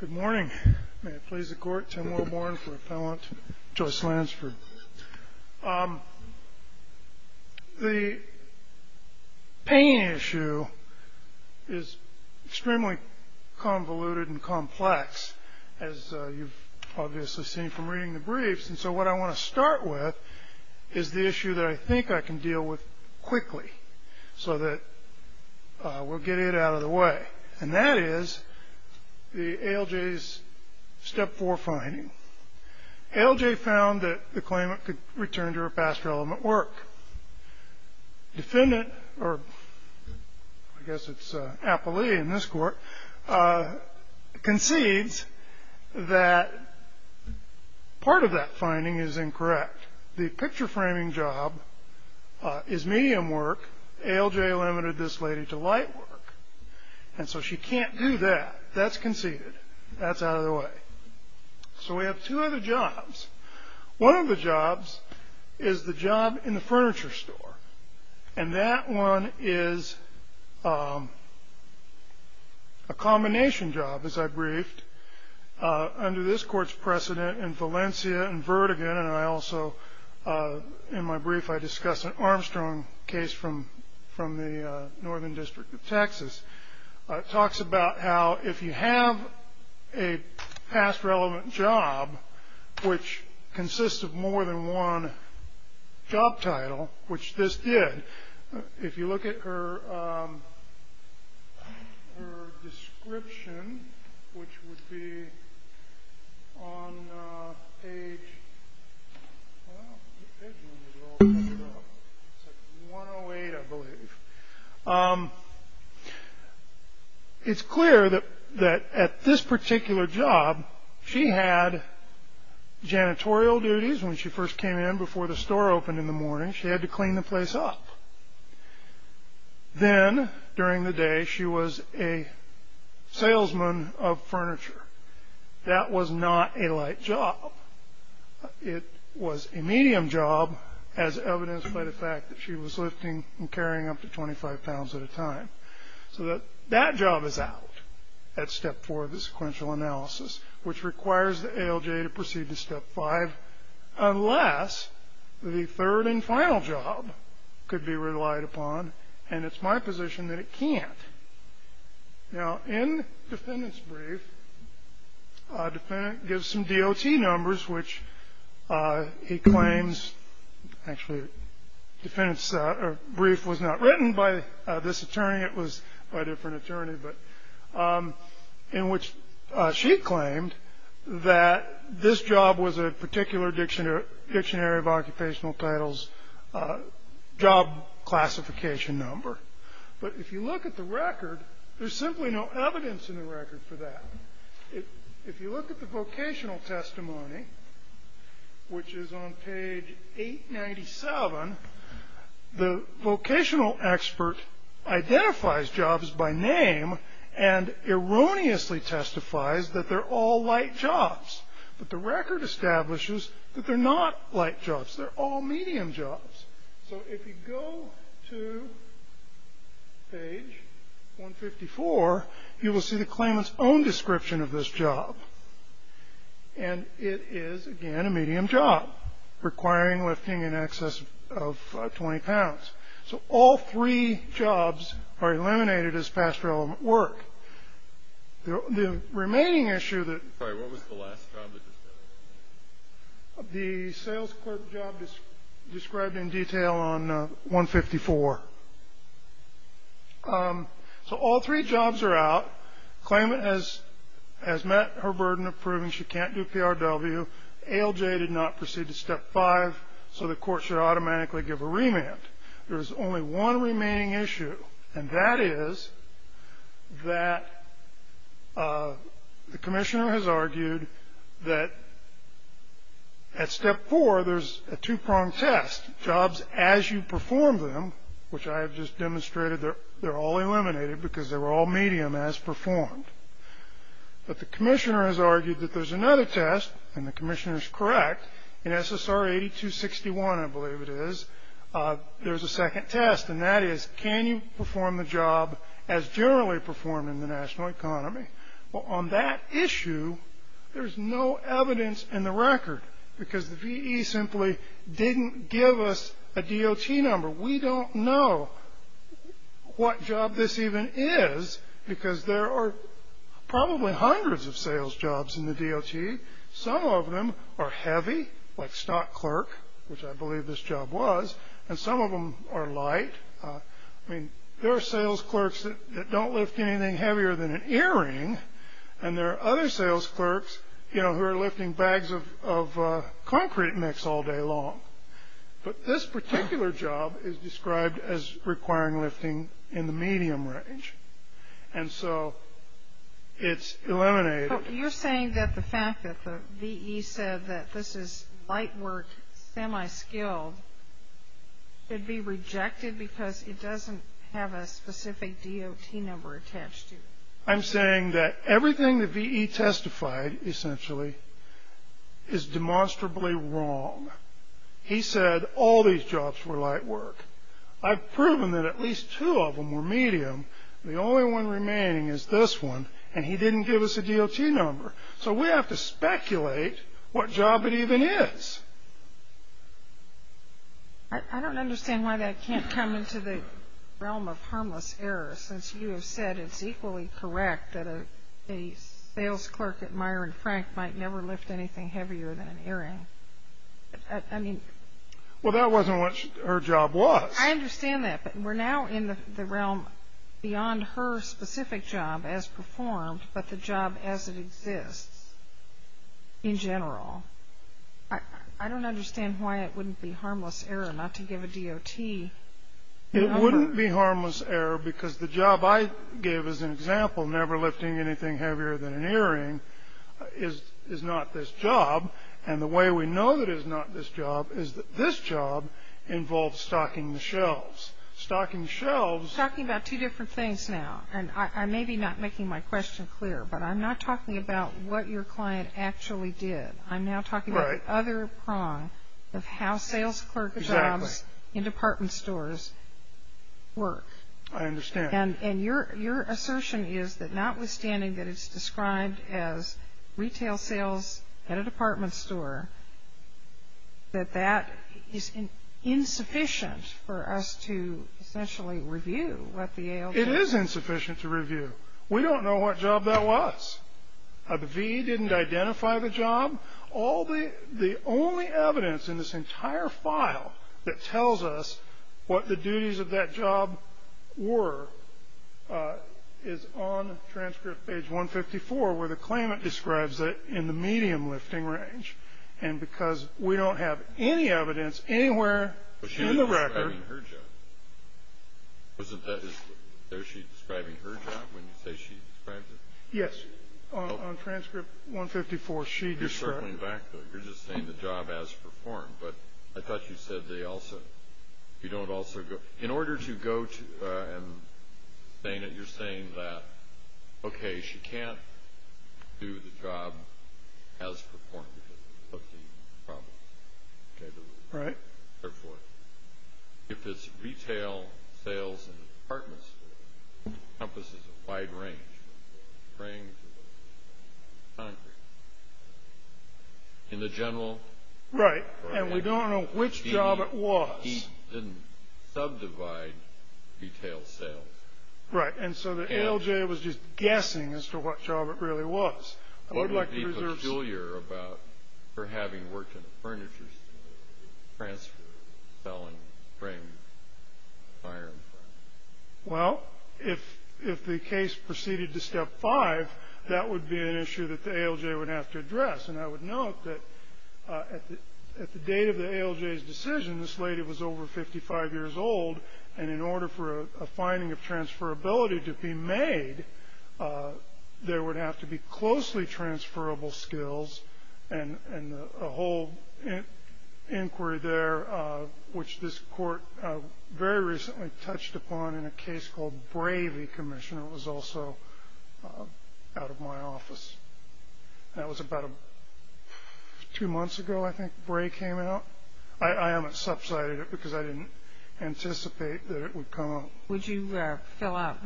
Good morning. May it please the Court, Tim Wilborn for Appellant Joyce Lansford. The pain issue is extremely convoluted and complex, as you've obviously seen from reading the briefs. And so what I want to start with is the issue that I think I can deal with quickly so that we'll get it out of the way. And that is the A.L.J.'s step four finding. A.L.J. found that the claimant could return to her past relevant work. Defendant, or I guess it's appellee in this court, concedes that part of that finding is incorrect. The picture framing job is medium work. A.L.J. limited this lady to light work, and so she can't do that. That's conceded. That's out of the way. So we have two other jobs. One of the jobs is the job in the furniture store, and that one is a combination job, as I briefed, Under this court's precedent in Valencia and Vertigan, and I also, in my brief, I discuss an Armstrong case from the Northern District of Texas. It talks about how if you have a past relevant job, which consists of more than one job title, which this did, if you look at her description, which would be on page 108, I believe, it's clear that at this particular job, she had janitorial duties. When she first came in before the store opened in the morning, she had to clean the place up. Then, during the day, she was a salesman of furniture. That was not a light job. It was a medium job, as evidenced by the fact that she was lifting and carrying up to 25 pounds at a time. So that job is out at step four of the sequential analysis, which requires the ALJ to proceed to step five, unless the third and final job could be relied upon, and it's my position that it can't. Now, in the defendant's brief, the defendant gives some DOT numbers, which he claims, actually, the brief was not written by this attorney. It was by a different attorney, but in which she claimed that this job was a particular dictionary of occupational titles, job classification number. But if you look at the record, there's simply no evidence in the record for that. If you look at the vocational testimony, which is on page 897, the vocational expert identifies jobs by name and erroneously testifies that they're all light jobs, but the record establishes that they're not light jobs. They're all medium jobs. So if you go to page 154, you will see the claimant's own description of this job, and it is, again, a medium job requiring lifting in excess of 20 pounds. So all three jobs are eliminated as pastoral work. The remaining issue that the sales clerk job is described in detail, detail on 154. So all three jobs are out. Claimant has met her burden of proving she can't do PRW. ALJ did not proceed to Step 5, so the court should automatically give a remand. There is only one remaining issue, and that is that the commissioner has argued that at Step 4, there's a two-pronged test, jobs as you perform them, which I have just demonstrated they're all eliminated because they were all medium as performed. But the commissioner has argued that there's another test, and the commissioner is correct. In SSR 8261, I believe it is, there's a second test, and that is, can you perform the job as generally performed in the national economy? Well, on that issue, there's no evidence in the record because the VE simply didn't give us a DOT number. We don't know what job this even is because there are probably hundreds of sales jobs in the DOT. Some of them are heavy, like stock clerk, which I believe this job was, and some of them are light. I mean, there are sales clerks that don't lift anything heavier than an earring, and there are other sales clerks, you know, who are lifting bags of concrete mix all day long. But this particular job is described as requiring lifting in the medium range, and so it's eliminated. So you're saying that the fact that the VE said that this is light work, semi-skilled, could be rejected because it doesn't have a specific DOT number attached to it? I'm saying that everything the VE testified, essentially, is demonstrably wrong. He said all these jobs were light work. I've proven that at least two of them were medium. The only one remaining is this one, and he didn't give us a DOT number. So we have to speculate what job it even is. I don't understand why that can't come into the realm of harmless error, since you have said it's equally correct that a sales clerk at Meijer & Frank might never lift anything heavier than an earring. Well, that wasn't what her job was. I understand that, but we're now in the realm beyond her specific job as performed, but the job as it exists in general. I don't understand why it wouldn't be harmless error not to give a DOT number. It wouldn't be harmless error because the job I gave as an example, never lifting anything heavier than an earring, is not this job. And the way we know that it's not this job is that this job involves stocking the shelves. Stocking the shelves. We're talking about two different things now, and I may be not making my question clear, but I'm not talking about what your client actually did. I'm now talking about the other prong of how sales clerk jobs in department stores work. I understand. And your assertion is that notwithstanding that it's described as retail sales at a department store, that that is insufficient for us to essentially review what the ALJ. It is insufficient to review. We don't know what job that was. The VE didn't identify the job. The only evidence in this entire file that tells us what the duties of that job were is on transcript page 154, where the claimant describes it in the medium lifting range. And because we don't have any evidence anywhere in the record. But she was describing her job. Isn't that what she's describing her job when you say she describes it? Yes. On transcript 154, she describes it. You're circling back, though. You're just saying the job as performed. But I thought you said they also – you don't also go – in order to go to and saying it, you're saying that, okay, she can't do the job as performed because of the problem. Right. Therefore, if it's retail sales in a department store, it encompasses a wide range of frames and concrete. In the general – Right. And we don't know which job it was. The VE didn't subdivide retail sales. Right. And so the ALJ was just guessing as to what job it really was. What would be peculiar about her having worked in a furniture store, transfer, sell, and bring fire equipment? Well, if the case proceeded to step five, that would be an issue that the ALJ would have to address. And I would note that at the date of the ALJ's decision, this lady was over 55 years old, and in order for a finding of transferability to be made, there would have to be closely transferable skills and a whole inquiry there, which this court very recently touched upon in a case called Bravey Commission. It was also out of my office. That was about two months ago, I think, Bravey came out. I haven't subsided it because I didn't anticipate that it would come out. Would you fill out,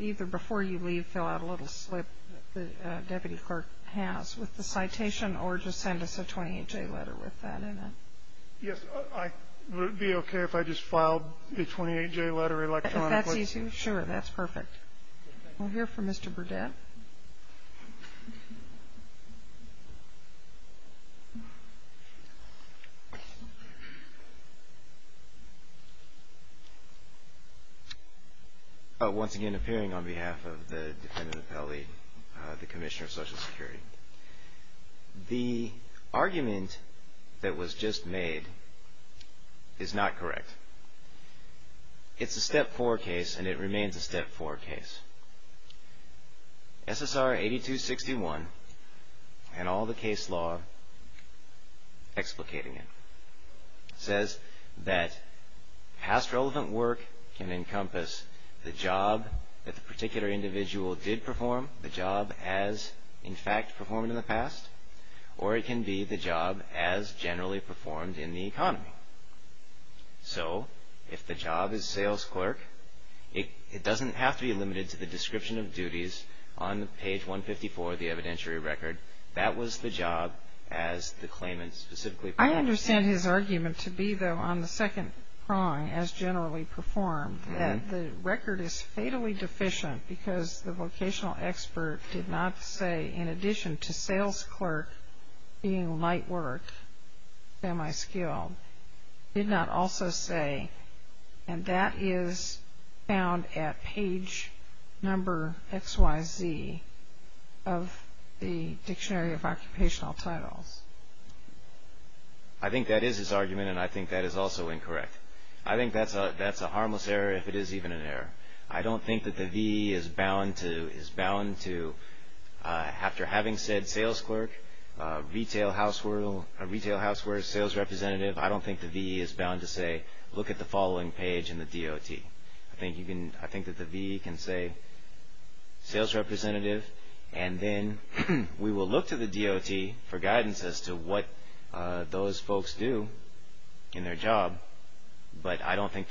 either before you leave, fill out a little slip that the deputy clerk has with the citation, or just send us a 28-J letter with that in it? Yes. Would it be okay if I just filed a 28-J letter electronically? That's easy. Sure, that's perfect. We'll hear from Mr. Burdett. Once again, appearing on behalf of the defendant appellee, the Commissioner of Social Security. The argument that was just made is not correct. It's a Step 4 case, and it remains a Step 4 case. SSR 8261 and all the case law explicating it says that past relevant work can encompass the job that the particular individual did perform, the job as, in fact, performed in the past, or it can be the job as generally performed in the economy. So if the job is sales clerk, it doesn't have to be limited to the description of duties on page 154 of the evidentiary record. That was the job as the claimant specifically performed. I understand his argument to be, though, on the second prong, as generally performed, that the record is fatally deficient because the vocational expert did not say, in addition to sales clerk being night work, semi-skilled, did not also say, and that is found at page number XYZ of the Dictionary of Occupational Titles. I think that is his argument, and I think that is also incorrect. I think that's a harmless error if it is even an error. I don't think that the VE is bound to, after having said sales clerk, retail housework, sales representative, I don't think the VE is bound to say, look at the following page in the DOT. I think that the VE can say, sales representative, and then we will look to the DOT for guidance as to what those folks do in their job, but I don't think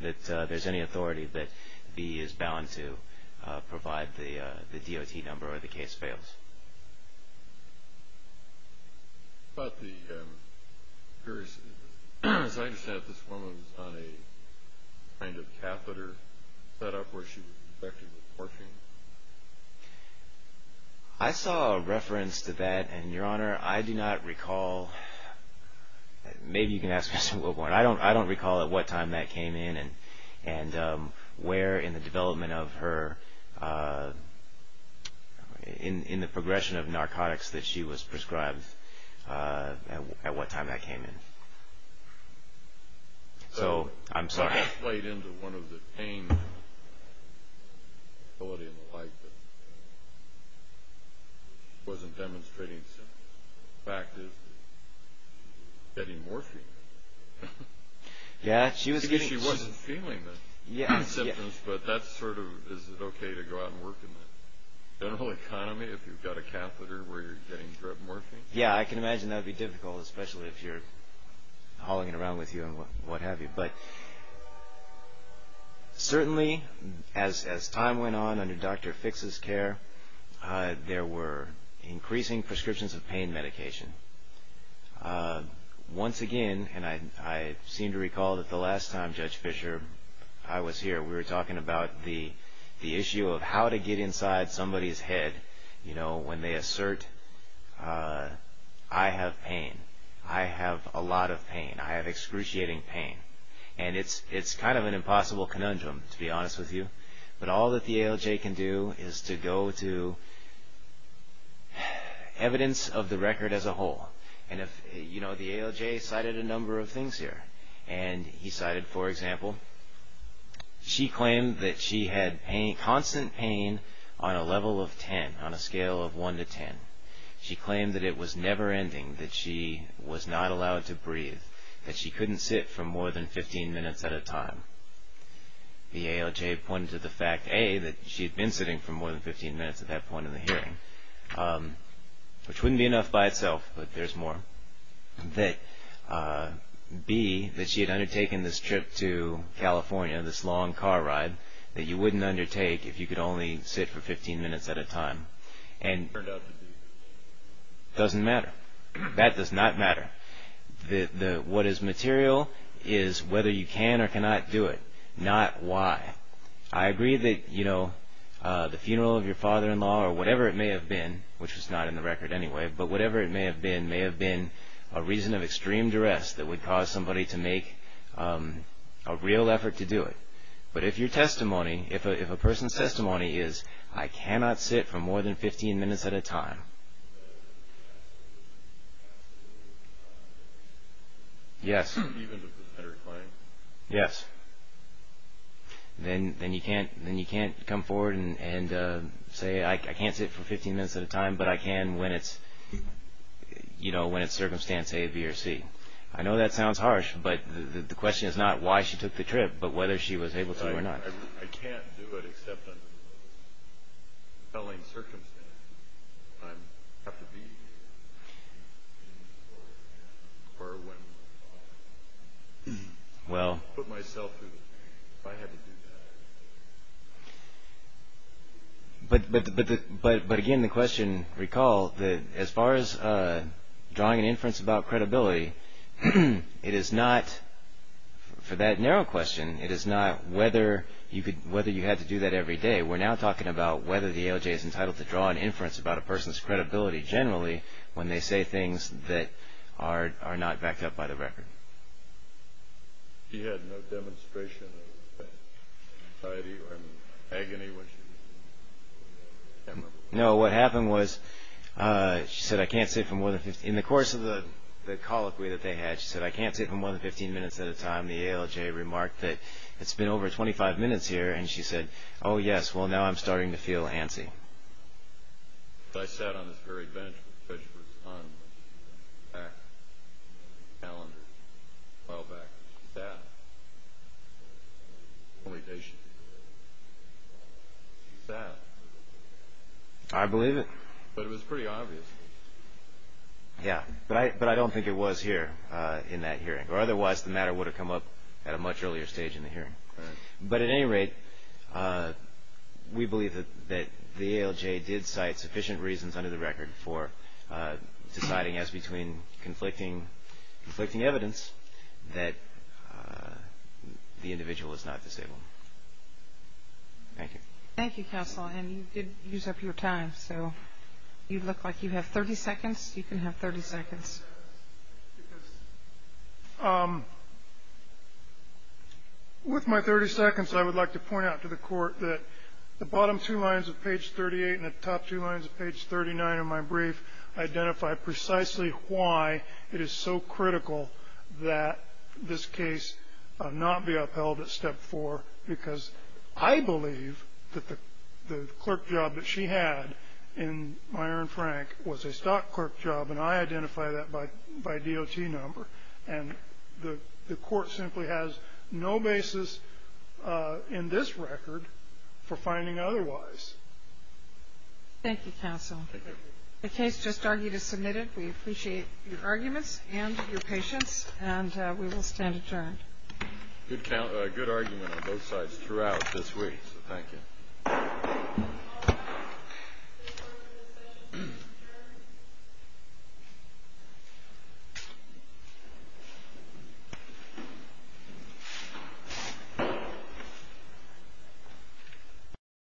that there's any authority that VE is bound to provide the DOT number or the case fails. As I understand it, this woman was on a kind of catheter set up where she was infected with morphine? I saw a reference to that, and, Your Honor, I do not recall. Maybe you can ask Mr. Wilborn. I don't recall at what time that came in and where in the development of her, in the progression of narcotics that she was prescribed, at what time that came in. So, I'm sorry. That played into one of the pain ability and the like that wasn't demonstrating symptoms. The fact is that she was getting morphine. Yeah, she was getting. She wasn't feeling the symptoms, but that's sort of, is it okay to go out and work in the general economy if you've got a catheter where you're getting drug morphine? Yeah, I can imagine that would be difficult, especially if you're hauling it around with you and what have you. But, certainly, as time went on under Dr. Fix's care, there were increasing prescriptions of pain medication. Once again, and I seem to recall that the last time Judge Fisher, I was here, we were talking about the issue of how to get inside somebody's head when they assert, I have pain, I have a lot of pain, I have excruciating pain. And it's kind of an impossible conundrum, to be honest with you. But all that the ALJ can do is to go to evidence of the record as a whole. And the ALJ cited a number of things here. And he cited, for example, she claimed that she had constant pain on a level of 10, on a scale of 1 to 10. She claimed that it was never-ending, that she was not allowed to breathe, that she couldn't sit for more than 15 minutes at a time. The ALJ pointed to the fact, A, that she'd been sitting for more than 15 minutes at that point in the hearing, which wouldn't be enough by itself, but there's more. B, that she had undertaken this trip to California, this long car ride, that you wouldn't undertake if you could only sit for 15 minutes at a time. And it doesn't matter. That does not matter. What is material is whether you can or cannot do it, not why. I agree that the funeral of your father-in-law, or whatever it may have been, which was not in the record anyway, but whatever it may have been, may have been a reason of extreme duress that would cause somebody to make a real effort to do it. But if your testimony, if a person's testimony is, I cannot sit for more than 15 minutes at a time, yes, yes, then you can't come forward and say, I can't sit for 15 minutes at a time, but I can when it's circumstance A, B, or C. I know that sounds harsh, but the question is not why she took the trip, but whether she was able to or not. I can't do it except under compelling circumstances. I have to be here, or when I put myself through, if I had to do that. But again, the question, recall, as far as drawing an inference about credibility, it is not, for that narrow question, it is not whether you had to do that every day. We're now talking about whether the ALJ is entitled to draw an inference about a person's credibility, generally, when they say things that are not backed up by the record. She had no demonstration of anxiety or agony when she did it? No, what happened was, she said, I can't sit for more than 15, in the course of the colloquy that they had, she said, I can't sit for more than 15 minutes at a time. The ALJ remarked that it's been over 25 minutes here, and she said, oh, yes, well, now I'm starting to feel antsy. I sat on this very bench, which was on back, calendar, a while back. She sat. Only patient. She sat. I believe it. But it was pretty obvious. Yeah, but I don't think it was here, in that hearing, or otherwise the matter would have come up at a much earlier stage in the hearing. But at any rate, we believe that the ALJ did cite sufficient reasons under the record for deciding, as between conflicting evidence, that the individual was not disabled. Thank you. Thank you, counsel. And you did use up your time, so you look like you have 30 seconds. You can have 30 seconds. Yes. With my 30 seconds, I would like to point out to the Court that the bottom two lines of page 38 and the top two lines of page 39 of my brief identify precisely why it is so critical that this case not be upheld at step four, because I believe that the clerk job that she had in Meyer and Frank was a stock clerk job, and I identify that by DOT number. And the Court simply has no basis in this record for finding otherwise. Thank you, counsel. The case just argued is submitted. We appreciate your arguments and your patience, and we will stand adjourned. Good argument on both sides throughout this week, so thank you. Thank you.